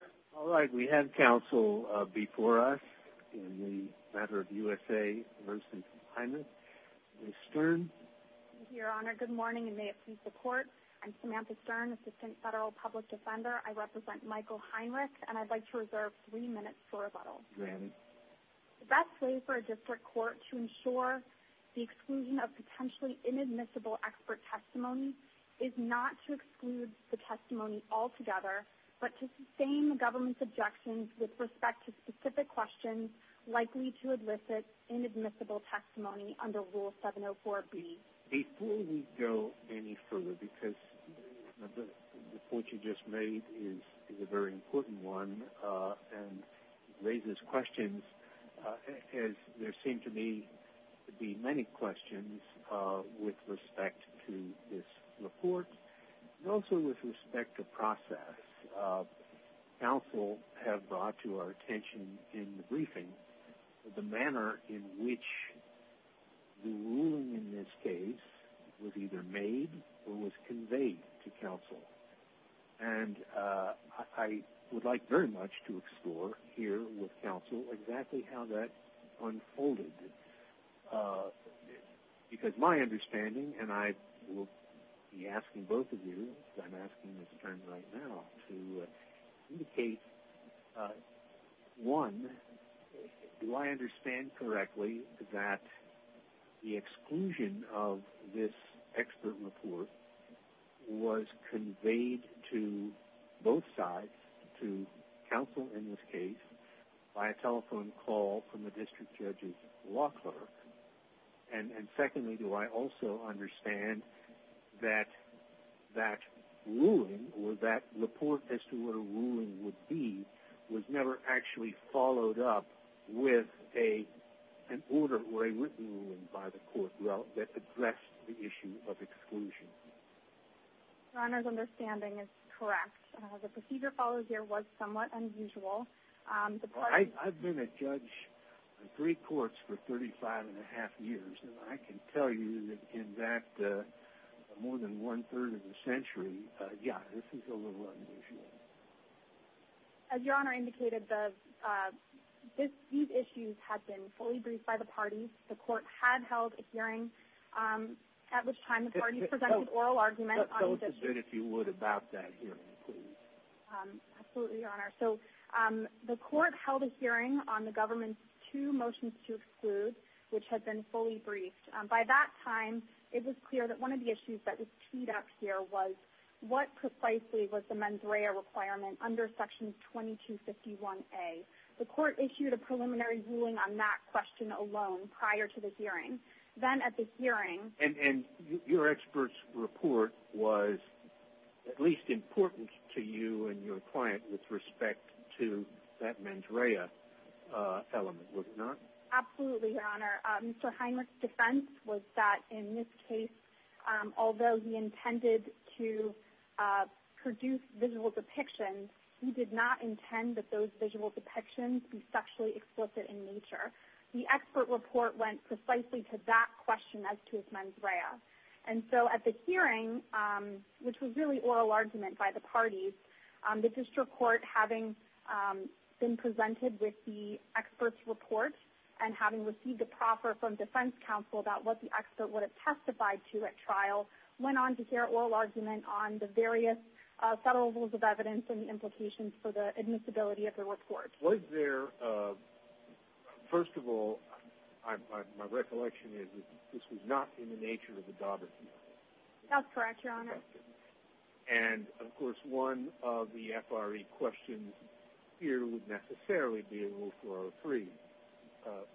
Good morning, and may it please the Court, I'm Samantha Stern, Assistant Federal Public Defender. I represent Michael Heinrich, and I'd like to reserve three minutes for rebuttal. Granted. The best way for a district court to ensure the exclusion of potentially inadmissible expert testimony is not to exclude the testimony altogether, but to sustain the government's objections with respect to specific questions likely to elicit inadmissible testimony under Rule 704B. Before we go any further, because the report you just made is a very important one and there seem to me to be many questions with respect to this report, and also with respect to process, counsel have brought to our attention in the briefing the manner in which the ruling in this case was either made or was conveyed to counsel, and I would like very much to ask counsel exactly how that unfolded. Because my understanding, and I will be asking both of you, I'm asking Ms. Stern right now, to indicate, one, do I understand correctly that the exclusion of this expert report was by a telephone call from the district judge's law clerk, and secondly, do I also understand that that ruling, or that report as to what a ruling would be, was never actually followed up with an order or a written ruling by the court that addressed the issue of exclusion? Your Honor's understanding is correct. The procedure followed here was somewhat unusual. I've been a judge in three courts for 35 and a half years, and I can tell you that in that more than one-third of the century, yeah, this is a little unusual. As Your Honor indicated, these issues had been fully briefed by the parties. The court had held a hearing, at which time the parties presented oral argument on the district. Tell us a bit, if you would, about that hearing, please. Absolutely, Your Honor. So, the court held a hearing on the government's two motions to exclude, which had been fully briefed. By that time, it was clear that one of the issues that was teed up here was, what precisely was the mens rea requirement under Section 2251A? The court issued a preliminary ruling on that question alone, prior to the hearing. Then, at the hearing... And your expert's report was at least important to you and your client, with respect to that mens rea element, was it not? Absolutely, Your Honor. Mr. Heinrich's defense was that, in this case, although he intended to produce visual depictions, he did not intend that those visual depictions be sexually explicit in nature. The expert report went precisely to that question, as to his mens rea. And so, at the hearing, which was really oral argument by the parties, the district court, having been presented with the expert's report, and having received a proffer from defense counsel about what the expert would have testified to at trial, went on to share oral argument on the various settles of evidence and the implications for the admissibility of the report. Was there... First of all, my recollection is that this was not in the nature of the Daugherty case. That's correct, Your Honor. And, of course, one of the F.R.E. questions here would necessarily be in Rule 403.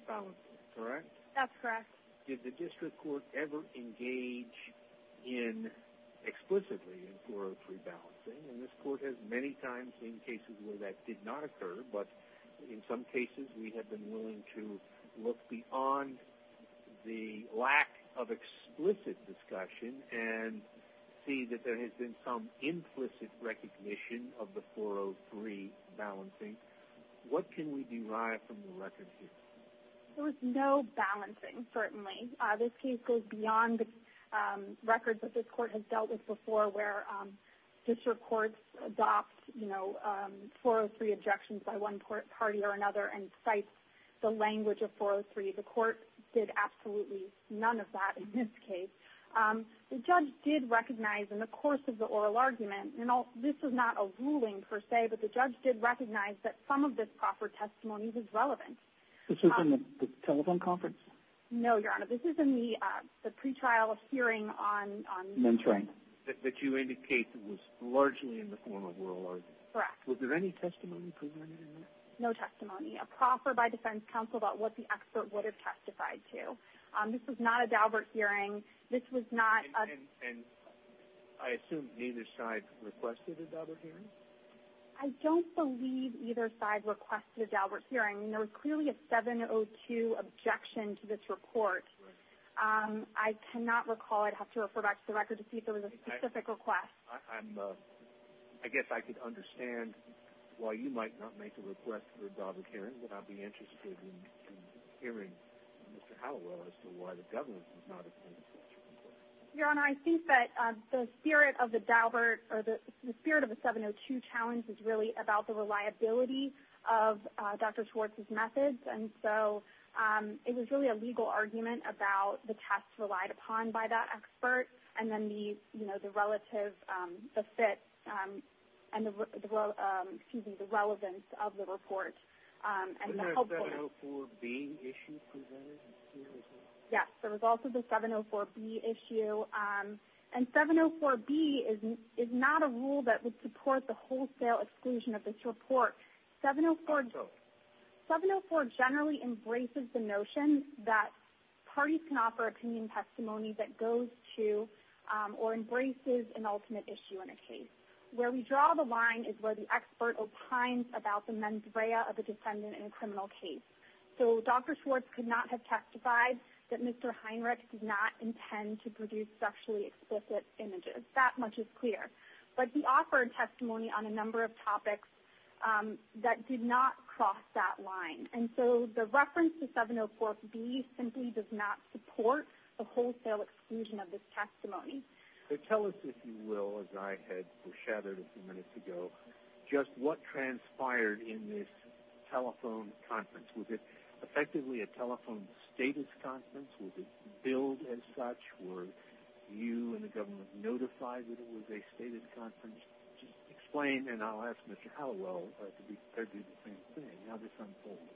Probably. Correct? That's correct. Did the district court ever engage in, explicitly, in 403 balancing? And this court has many times seen cases where that did not occur, but in some cases we have been willing to look beyond the lack of explicit discussion and see that there has been some implicit recognition of the 403 balancing. What can we derive from the record here? There was no balancing, certainly. This case goes beyond the records that this court has dealt with before, where district courts adopt, you know, 403 objections by one party or another and cite the language of 403. The court did absolutely none of that in this case. The judge did recognize, in the course of the oral argument, and this was not a ruling, per se, but the judge did recognize that some of this proffered testimony was relevant. This was in the telephone conference? No, Your Honor. This was in the pretrial hearing on... Mentoring. That you indicate was largely in the form of oral argument. Correct. Was there any testimony presented in that? No testimony. A proffer by defense counsel about what the expert would have testified to. This was not a Daubert hearing. This was not a... And I assume neither side requested a Daubert hearing? I don't believe either side requested a Daubert hearing. There was clearly a 702 objection to this report. I cannot recall. I'd have to refer back to the record to see if there was a specific request. I guess I could understand why you might not make a request for a Daubert hearing, but I'd be interested in hearing Mr. Hallowell as to why the government was not... Your Honor, I think that the spirit of the Daubert, or the spirit of the 702 challenge, is really about the reliability of Dr. Schwartz's methods. And so, it was really a legal argument about the tests relied upon by the expert, and then the relative, the fit, and the relevance of the report. And the... Wasn't there a 704B issue presented? Yes, there was also the 704B issue. And 704B is not a rule that would support the wholesale exclusion of this report. 704 generally embraces the notion that parties can offer opinion testimony that goes to, or embraces, an ultimate issue in a case. Where we draw the line is where the expert opines about the mens rea of the defendant in a criminal case. So, Dr. Schwartz could not have testified that Mr. Heinrich did not intend to produce sexually explicit images. That much is clear. But he offered testimony on a number of topics that did not cross that line. And so, the reference to 704B simply does not support the wholesale exclusion of this testimony. So, tell us if you will, as I had foreshadowed a few minutes ago, just what transpired in this telephone conference. Was it effectively a telephone status conference? Was it billed as such? Were you and the government notified that it was a stated conference? Just explain, and I'll ask Mr. Hallowell to do the same thing, how this unfolded.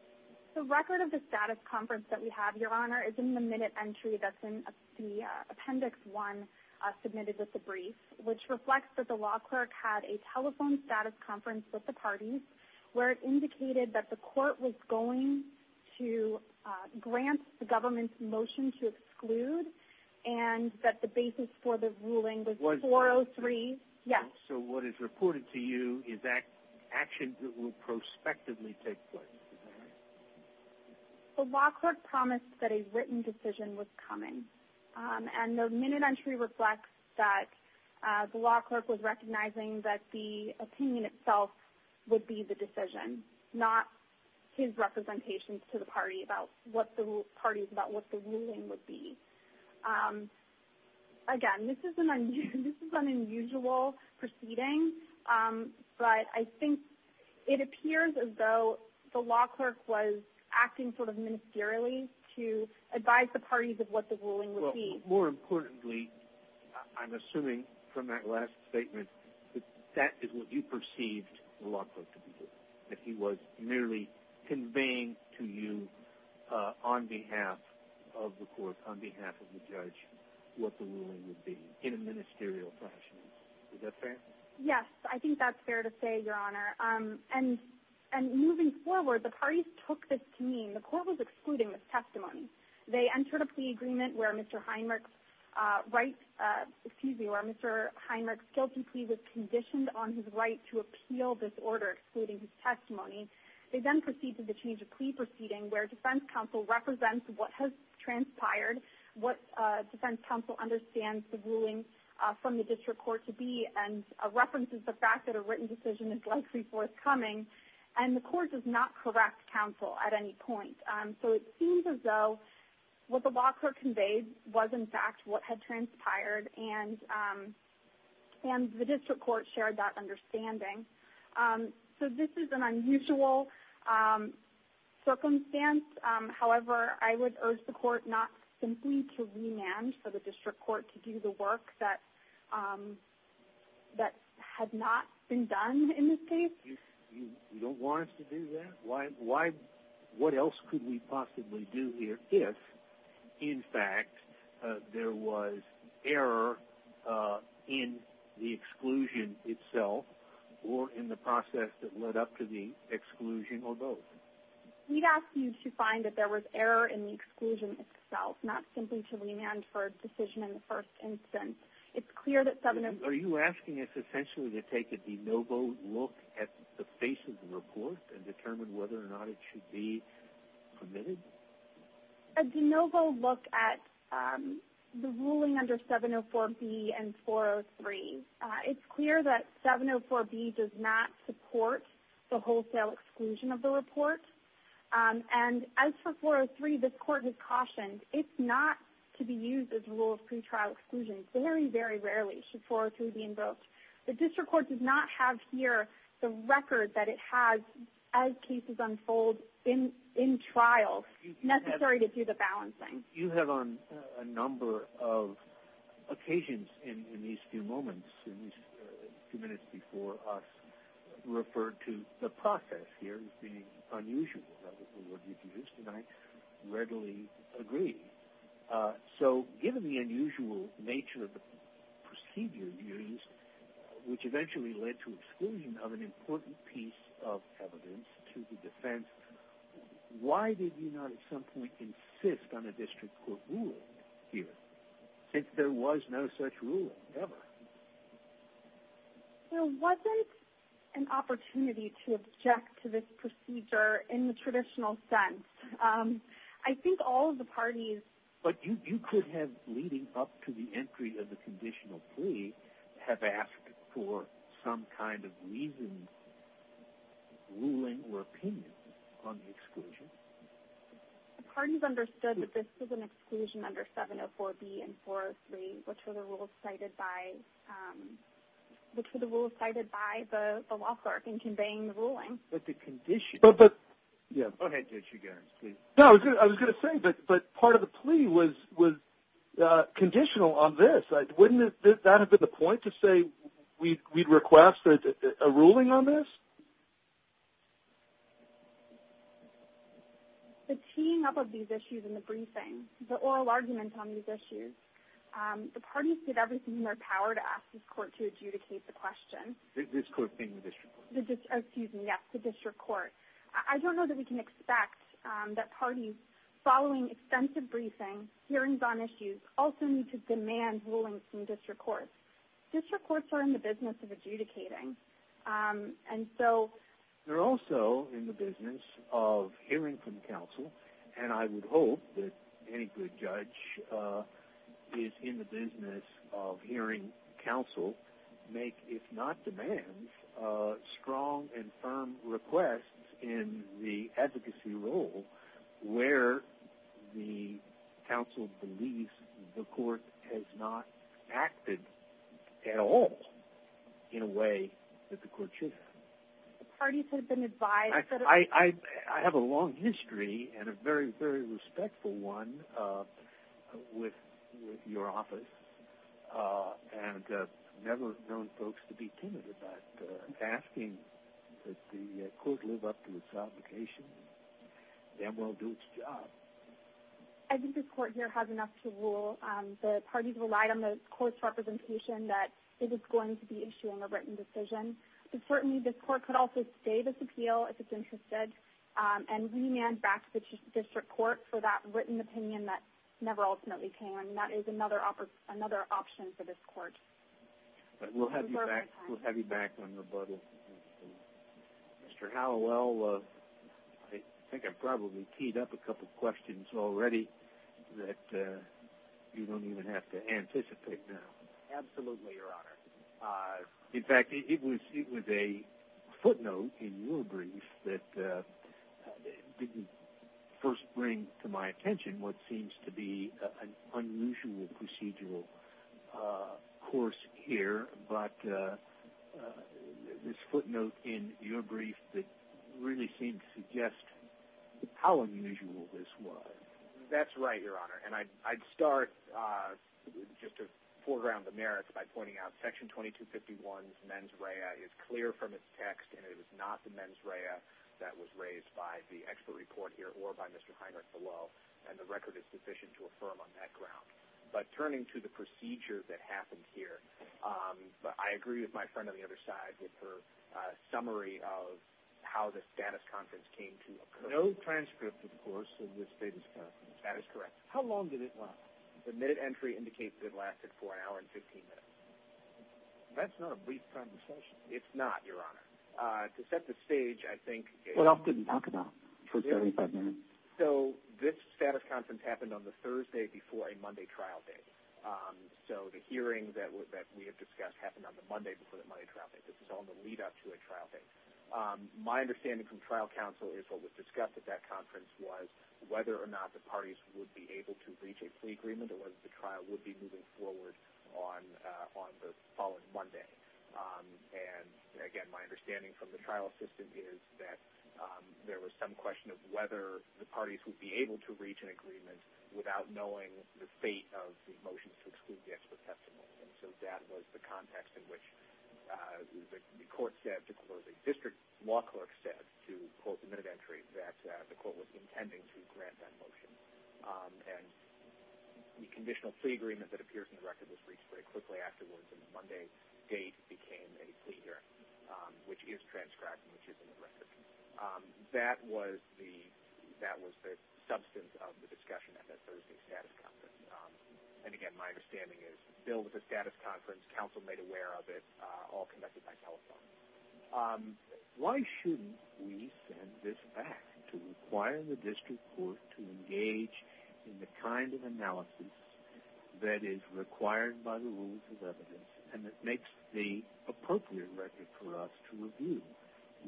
The record of the status conference that we have, Your Honor, is in the minute entry that's in the appendix one submitted with the brief. Which reflects that the law clerk had a telephone status conference with the parties. Where it indicated that the court was going to grant the government's motion to exclude. And that the basis for the ruling was 403. Yes. So, what is reported to you is that action that will prospectively take place. The law clerk promised that a written decision was coming. And the minute entry reflects that the law clerk was recognizing that the opinion itself would be the decision. Not his representations to the party about what the ruling would be. Again, this is an unusual proceeding. But I think it appears as though the law clerk was acting sort of ministerially to advise the parties of what the ruling would be. More importantly, I'm assuming from that last statement, that that is what you perceived the law clerk to be doing. That he was merely conveying to you on behalf of the court, on behalf of the judge, what the ruling would be in a ministerial fashion. Is that fair? Yes. I think that's fair to say, Your Honor. And moving forward, the parties took this to mean the court was excluding this testimony. They entered a plea agreement where Mr. Heinrich's right, excuse me, where Mr. Heinrich's guilty plea was conditioned on his right to appeal this order, excluding his testimony. They then proceeded to change a plea proceeding where defense counsel represents what has transpired. What defense counsel understands the ruling from the district court to be. And references the fact that a written decision is likely forthcoming. And the court does not correct counsel at any point. So it seems as though what the law clerk conveyed was in fact what had transpired. And the district court shared that understanding. So this is an unusual circumstance. However, I would urge the court not simply to remand for the district court to do the work that had not been done in this case. You don't want us to do that? Why, what else could we possibly do here? If, in fact, there was error in the exclusion itself. Or in the process that led up to the exclusion or both. We'd ask you to find that there was error in the exclusion itself. Not simply to remand for a decision in the first instance. It's clear that some of the. Are you asking us essentially to take a de novo look at the face of the report? And determine whether or not it should be permitted? A de novo look at the ruling under 704B and 403. It's clear that 704B does not support the wholesale exclusion of the report. And as for 403, this court has cautioned. It's not to be used as a rule of pretrial exclusion. Very, very rarely should 403 be invoked. The district court does not have here the record that it has as cases unfold in trials. Necessary to do the balancing. You have on a number of occasions in these few moments. In these few minutes before us. Referred to the process here as being unusual. Is that the word you used? And I readily agree. So given the unusual nature of the procedure used. Which eventually led to exclusion of an important piece of evidence to the defense. Why did you not at some point insist on a district court ruling here? Since there was no such ruling ever. There wasn't an opportunity to object to this procedure in the traditional sense. I think all of the parties. But you could have leading up to the entry of the conditional plea. Have asked for some kind of reason, ruling or opinion. On the exclusion. The parties understood that this was an exclusion under 704B and 403. Which were the rules cited by the law clerk in conveying the ruling. But the condition. But, but. Yeah. Go ahead, Judge Hugarin, please. No, I was going to say, but part of the plea was conditional on this. Wouldn't that have been the point to say we'd request a ruling on this? The teeing up of these issues in the briefing. The oral argument on these issues. The parties did everything in their power to ask this court to adjudicate the question. This court being the district court? Excuse me, yes, the district court. I don't know that we can expect that parties following extensive briefings, hearings on issues, also need to demand rulings from district courts. District courts are in the business of adjudicating. And so. They're also in the business of hearing from counsel. And I would hope that any good judge is in the business of hearing counsel. Make, if not demands, strong and firm requests in the advocacy role. Where the counsel believes the court has not acted at all in a way that the court should have. Parties have been advised that. I have a long history and a very, very respectful one with your office. And never known folks to be timid about asking that the court live up to its obligation. That will do its job. I think this court here has enough to rule. The parties relied on the court's representation that it is going to be issuing a written decision. But certainly this court could also stay this appeal if it's interested. And remand back to the district court for that written opinion that never ultimately came. And that is another option for this court. We'll have you back on rebuttal. Mr. Hallowell, I think I probably keyed up a couple questions already that you don't even have to anticipate now. Absolutely, your honor. In fact, it was a footnote in your brief that didn't first bring to my attention what seems to be an unusual procedural course here. But this footnote in your brief that really seemed to suggest how unusual this was. That's right, your honor. And I'd start just to foreground the merits by pointing out section 2251's mens rea is clear from its text and it is not the mens rea that was raised by the expert report here or by Mr. Heinrich below and the record is sufficient to affirm on that ground. But turning to the procedure that happened here, I agree with my friend on the other side with her summary of how the status conference came to occur. No transcript, of course, of the status conference. That is correct. How long did it last? The minute entry indicates that it lasted for an hour and 15 minutes. That's not a brief conversation. It's not, your honor. To set the stage, I think it's... Well, I couldn't talk about it for 35 minutes. So this status conference happened on the Thursday before a Monday trial date. So the hearing that we have discussed happened on the Monday before the Monday trial date. This is all the lead up to a trial date. My understanding from trial counsel is what was discussed at that conference was whether or not the parties would be able to reach a plea agreement or whether the trial would be moving forward on the following Monday. And again, my understanding from the trial assistant is that there was some question of whether the parties would be able to reach an agreement without knowing the fate of the motion to exclude the expert testimony. And so that was the context in which the court said, the district law clerk said to quote the minute entry that the court was intending to grant that motion. And the conditional plea agreement that appears in the record was reached very quickly afterwards. And the Monday date became a plea hearing, which is transcribed and which is in the record. That was the substance of the discussion at that Thursday status conference. And again, my understanding is the bill was a status conference. Counsel made aware of it, all conducted by telephone. Why shouldn't we send this back to require the district court to engage in the kind of analysis that is required by the rules of evidence and that makes the appropriate record for us to review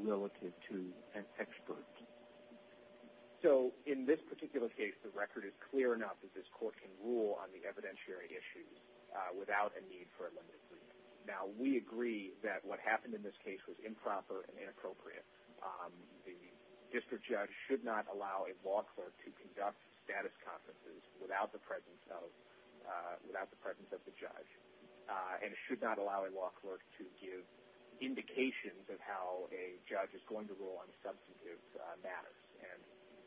relative to an expert? So in this particular case, the record is clear enough that this court can rule on the evidentiary issues without a need for a limited brief. Now, we agree that what happened in this case was improper and inappropriate. The district judge should not allow a law clerk to conduct status conferences without the presence of the judge. And it should not allow a law clerk to give indications of how a judge is going to rule on substantive matters and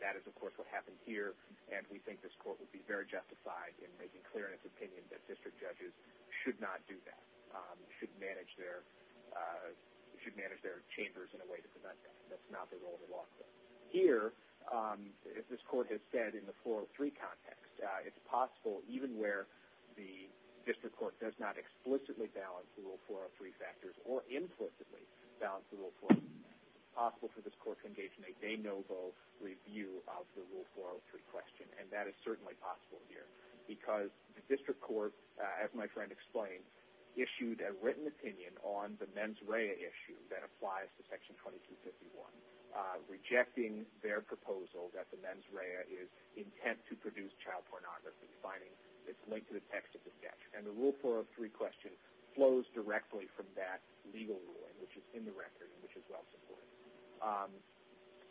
that is, of course, what happened here. And we think this court would be very justified in making clear in its opinion that district judges should not do that. Should manage their chambers in a way that's not the role of a law clerk. Here, as this court has said in the 403 context, it's possible even where the district court does not explicitly balance the rule 403 factors or implicitly balance the rule 403, it's possible for this court to engage in a de novo review of the rule 403 question. And that is certainly possible here because the district court, as my friend explained, issued a written opinion on the mens rea issue that applies to section 2251. Rejecting their proposal that the mens rea is intent to produce child pornography finding it's linked to the text of the statute. And the rule 403 question flows directly from that legal ruling, which is in the record and which is well supported.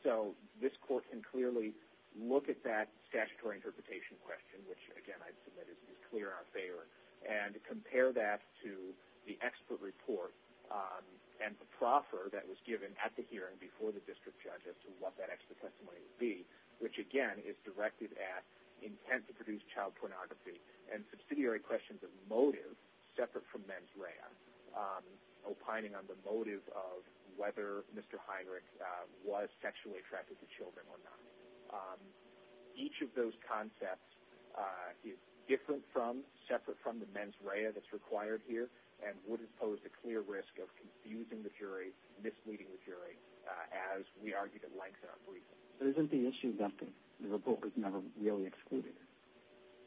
So, this court can clearly look at that statutory interpretation question, which again I'd submit is clear in our favor. And compare that to the expert report and the proffer that was given at the hearing before the district judge as to what that expert testimony would be, which again is directed at intent to produce child pornography. And subsidiary questions of motive separate from mens rea opining on the motive of whether Mr. Heinrich was sexually attracted to children or not. Each of those concepts is different from, separate from the mens rea that's required here and would impose a clear risk of confusing the jury, misleading the jury as we argued at length in our brief. But isn't the issue that the report was never really excluded?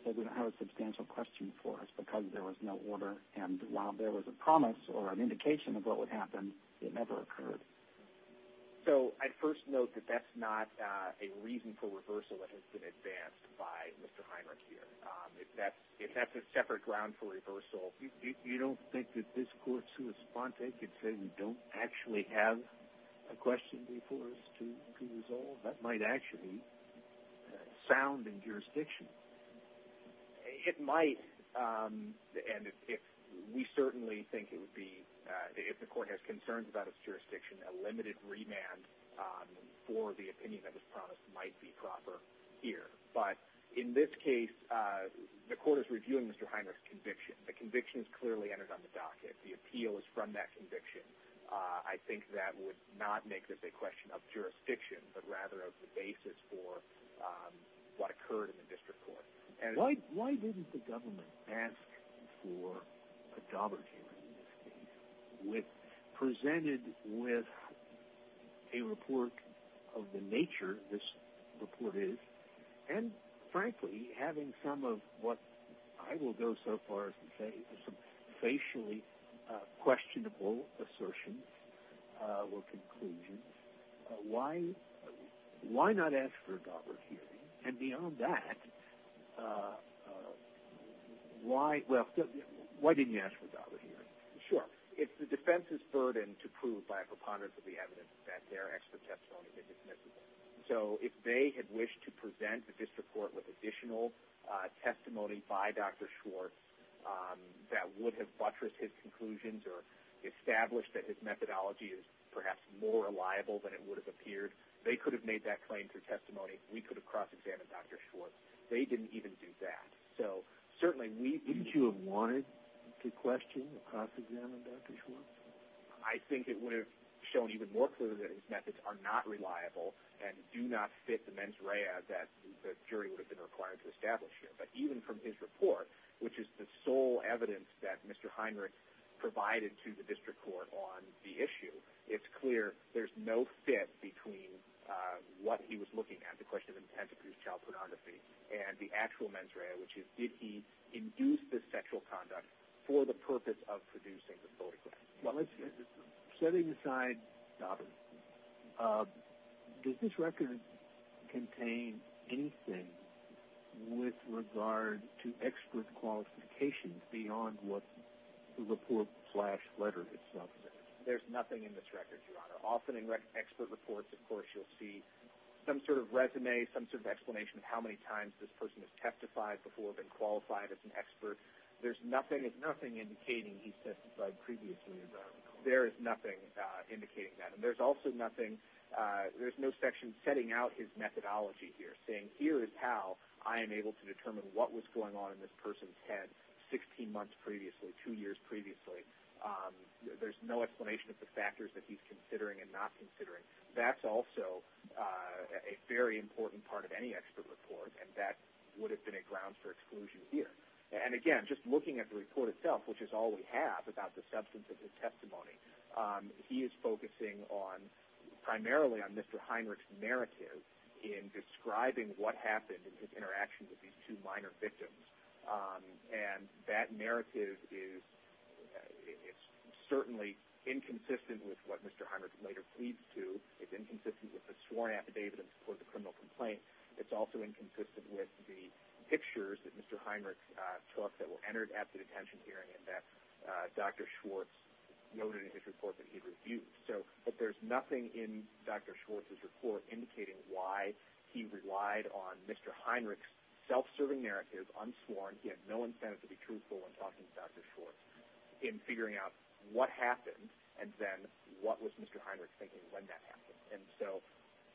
That we don't have a substantial question for us because there was no order and while there was a promise or an indication of what would happen, it never occurred. So, I'd first note that that's not a reason for reversal that has been advanced by Mr. Heinrich here. If that's a separate ground for reversal. You don't think that this court's correspondent could say we don't actually have a question before us to resolve? That might actually sound in jurisdiction. It might and if we certainly think it would be, if the court has concerns about its jurisdiction, a limited remand for the opinion that was promised might be proper here. But in this case, the court is reviewing Mr. Heinrich's conviction. The conviction is clearly entered on the docket. The appeal is from that conviction. I think that would not make this a question of jurisdiction, but rather of the basis for what occurred in the district court. Why didn't the government ask for a Daubert hearing in this case presented with a report of the nature this report is and frankly, having some of what I will go so far as to say some facially questionable assertions or conclusions. Why not ask for a Daubert hearing and beyond that, why didn't you ask for a Daubert hearing? Sure. It's the defense's burden to prove by a preponderance of the evidence that their expert testimony has been dismissive. So if they had wished to present the district court with additional testimony by Dr. Schwartz that would have buttressed his conclusions or established that his methodology is perhaps more reliable than it would have appeared. They could have made that claim through testimony. We could have cross-examined Dr. Schwartz. They didn't even do that. So certainly we... Wouldn't you have wanted to question, cross-examine Dr. Schwartz? I think it would have shown even more clearly that his methods are not reliable and do not fit the mens rea that the jury would have been required to establish here. But even from his report, which is the sole evidence that Mr. Heinrich provided to the district court on the issue, it's clear there's no fit between what he was looking at, the question of intent to produce child pornography, and the actual mens rea, which is did he induce this sexual conduct for the purpose of producing the photograph? Well, let's just, setting aside Daubert, does this record contain anything with regard to expert qualifications beyond what the report slash letter itself says? There's nothing in this record, Your Honor. Often in expert reports, of course, you'll see some sort of resume, some sort of explanation of how many times this person has testified before, been qualified as an expert. There's nothing, there's nothing indicating he's testified previously. There is nothing indicating that. And there's also nothing, there's no section setting out his methodology here, saying here is how I am able to determine what was going on in this person's head 16 months previously, two years previously. There's no explanation of the factors that he's considering and not considering. That's also a very important part of any expert report, and that would have been a ground for exclusion here. And again, just looking at the report itself, which is all we have about the substance of his testimony, he is focusing on, primarily on Mr. Heinrich's narrative in describing what happened in his interaction with these two minor victims. And that narrative is, it's certainly inconsistent with what Mr. Heinrich later pleads to. It's inconsistent with the sworn affidavit in support of the criminal complaint. It's also inconsistent with the pictures that Mr. Heinrich took that were entered at the detention hearing and that Dr. Schwartz noted in his report that he'd reviewed. So, but there's nothing in Dr. Schwartz's report indicating why he relied on Mr. Heinrich's self-serving narrative, unsworn, he had no incentive to be truthful when talking to Dr. Schwartz, in figuring out what happened and then what was Mr. Heinrich thinking when that happened. And so,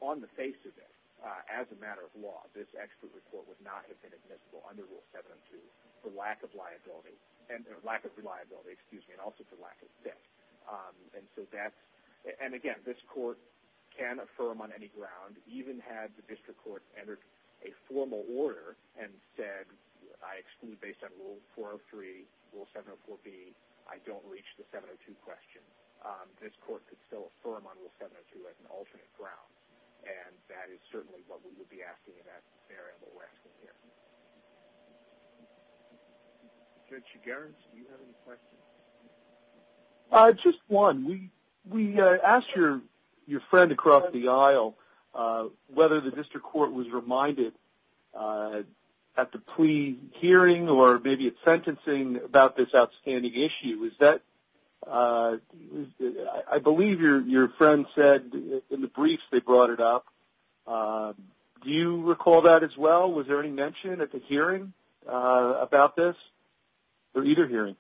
on the face of it, as a matter of law, this expert report would not have been admissible under Rule 702 for lack of liability, and lack of reliability, excuse me, and also for lack of fit. And so that's, and again, this court can affirm on any ground, even had the district court entered a formal order and said, I exclude based on Rule 403, Rule 704B, I don't reach the 702 question, this court could still affirm on Rule 702 as an alternate ground, and that is certainly what we would be asking in that scenario that we're asking here. Mr. Chigaris, do you have any questions? Just one, we asked your friend across the aisle whether the district court was reminded at the pre-hearing, or maybe at sentencing, about this outstanding issue. Is that, I believe your friend said in the briefs they brought it up. Do you recall that as well? Was there any mention at the hearing about this, or either hearing?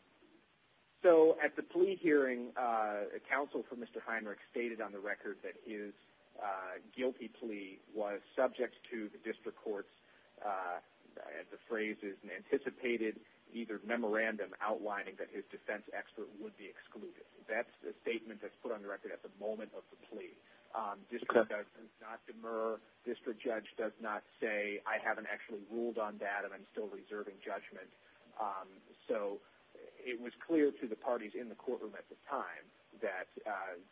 So, at the plea hearing, counsel for Mr. Heinrich stated on the record that his guilty plea was subject to the district court's, the phrase is an anticipated, either memorandum outlining that his defense expert would be excluded. That's the statement that's put on the record at the moment of the plea. District judge does not say, I haven't actually ruled on that, and I'm still reserving judgment. So, it was clear to the parties in the courtroom at the time that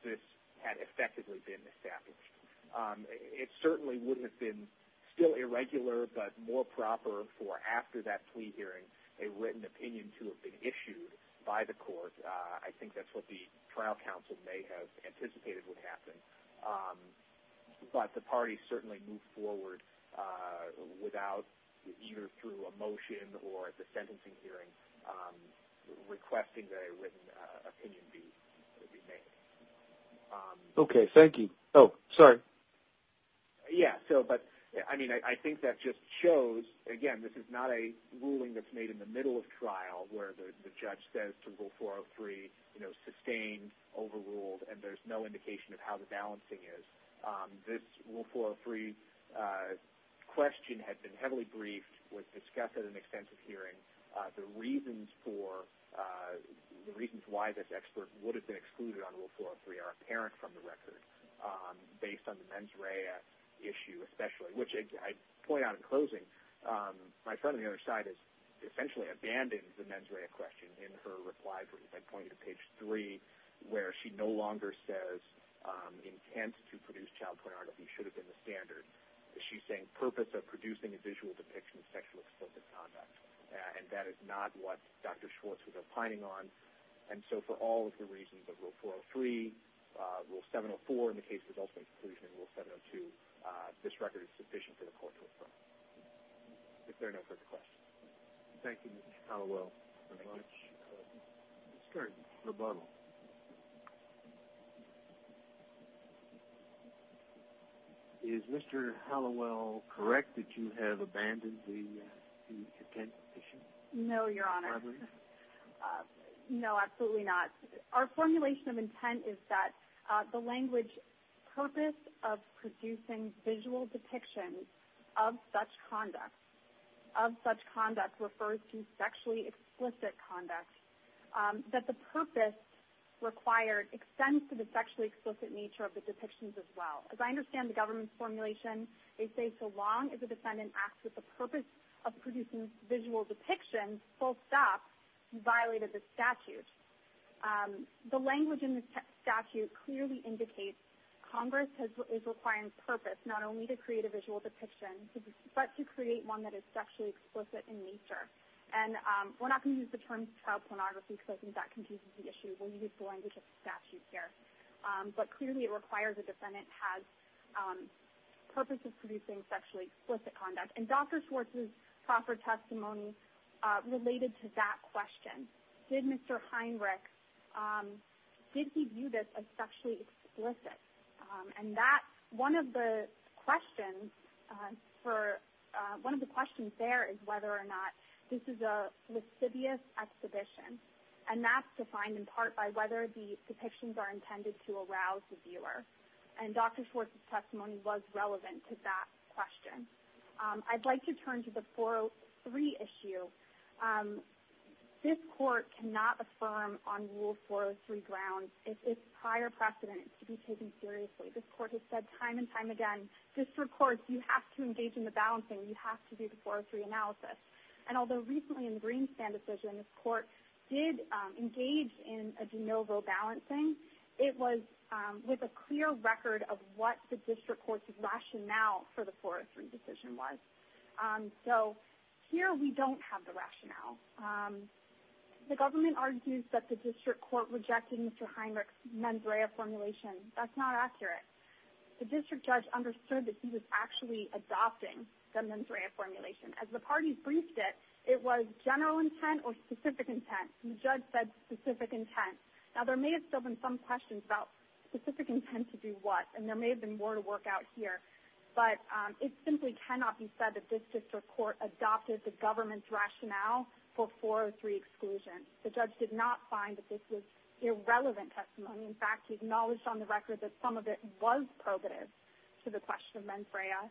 this had effectively been established. It certainly wouldn't have been still irregular, but more proper for after that plea hearing, a written opinion to have been issued by the court. I think that's what the trial counsel may have anticipated would happen. But, the parties certainly moved forward without, either through a motion or at the sentencing hearing, requesting that a written opinion be made. Okay. Thank you. Oh, sorry. Yeah. So, but, I mean, I think that just shows, again, this is not a ruling that's made in the middle of trial where the judge says to rule 403, you know, sustained, overruled, and there's no indication of how the balancing is. This rule 403 question had been heavily briefed, was discussed at an extensive hearing. The reasons for, the reasons why this expert would have been excluded on rule 403 are apparent from the record, based on the mens rea issue, especially, which I point out in closing, my friend on the other side has essentially abandoned the mens rea question in her reply to page three, where she no longer says intent to produce child pornography should have been the standard. She's saying purpose of producing a visual depiction of sexual explicit conduct. And that is not what Dr. Schwartz was opining on. And so, for all of the reasons of rule 403, rule 704 in the case of ultimate exclusion, and rule 702, this record is sufficient for the court to affirm. If there are no further questions. Thank you, Mr. Conlow. Thank you very much. Let's start rebuttal. Is Mr. Hallowell correct that you have abandoned the intent issue? No, your honor. No, absolutely not. Our formulation of intent is that the language purpose of producing visual depictions of such conduct. Of such conduct refers to sexually explicit conduct. That the purpose required extends to the sexually explicit nature of the depictions as well. As I understand the government's formulation, they say so long as the defendant acts with the purpose of producing visual depictions, full stop, violated the statute. The language in the statute clearly indicates Congress is requiring purpose not only to create a visual depiction, but to create one that is sexually explicit in nature. And we're not going to use the term child pornography because I think that confuses the issue. We'll use the language of the statute here. But clearly it requires the defendant has purpose of producing sexually explicit conduct. And Dr. Schwartz's proffered testimony related to that question. Did Mr. Heinrich, did he view this as sexually explicit? And that, one of the questions for, one of the questions there is whether or not this is a lascivious exhibition. And that's defined in part by whether the depictions are intended to arouse the viewer. And Dr. Schwartz's testimony was relevant to that question. I'd like to turn to the 403 issue. This court cannot affirm on Rule 403 grounds if its prior precedent is to be taken seriously. This court has said time and time again, district courts, you have to engage in the balancing. You have to do the 403 analysis. And although recently in the Green Stand decision, this court did engage in a de novo balancing. It was with a clear record of what the district court's rationale for the 403 decision was. So here we don't have the rationale. The government argues that the district court rejected Mr. Heinrich's Monsrea formulation. That's not accurate. The district judge understood that he was actually adopting the Monsrea formulation. As the parties briefed it, it was general intent or specific intent. The judge said specific intent. Now there may have still been some questions about specific intent to do what. And there may have been more to work out here. But it simply cannot be said that this district court adopted the government's rationale for 403 exclusion. The judge did not find that this was irrelevant testimony. In fact, he acknowledged on the record that some of it was probative to the question of Monsrea.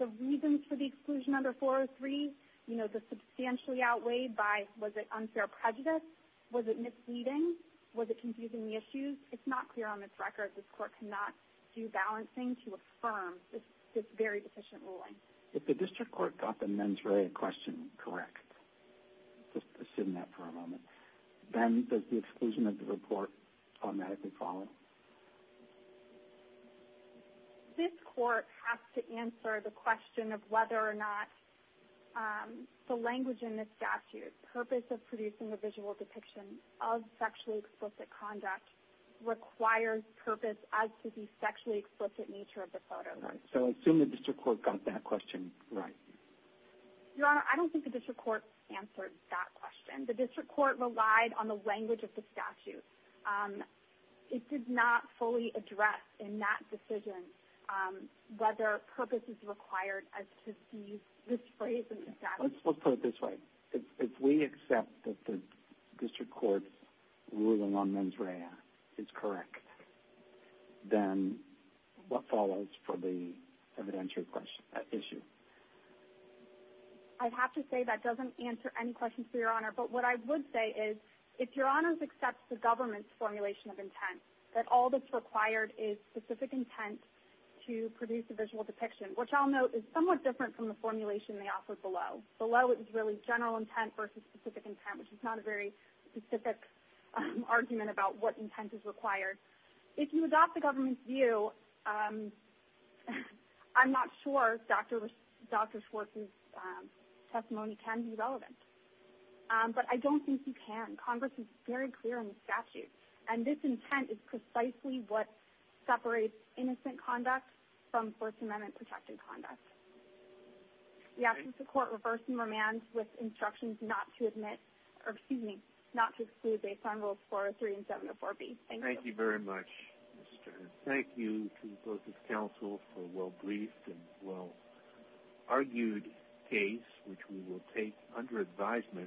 The reasons for the exclusion under 403, you know, the substantially outweighed by was it unfair prejudice, was it misleading, was it confusing the issues, it's not clear on this record. This court cannot do balancing to affirm this very deficient ruling. If the district court got the Monsrea question correct, just assume that for a moment, then does the exclusion of the report automatically follow? This court has to answer the question of whether or not the language in the statute, purpose of producing a visual depiction of sexually explicit conduct requires purpose as to the sexually explicit nature of the photo. Right. So assume the district court got that question right. Your Honor, I don't think the district court answered that question. The district court relied on the language of the statute. It did not fully address in that decision whether purpose is required as to see this phrase in the statute. Let's put it this way. If we accept that the district court's ruling on Monsrea is correct, then what follows for the evidentiary question, issue? But what I would say is, if Your Honors accepts the government's formulation of intent, that all that's required is specific intent to produce a visual depiction, which I'll note is somewhat different from the formulation they offered below. Below is really general intent versus specific intent, which is not a very specific argument about what intent is required. If you adopt the government's view, I'm not sure Dr. Schwartz's testimony can be relevant. But I don't think you can. Congress is very clear on the statute. And this intent is precisely what separates innocent conduct from First Amendment-protected conduct. We ask that the court reverse and remand with instructions not to admit, or excuse me, not to exclude based on Rules 403 and 704B. Thank you. Thank you very much, Mr. Ernst. Thank you to both the counsel for a well-briefed and well-argued case, which we will take under advisement.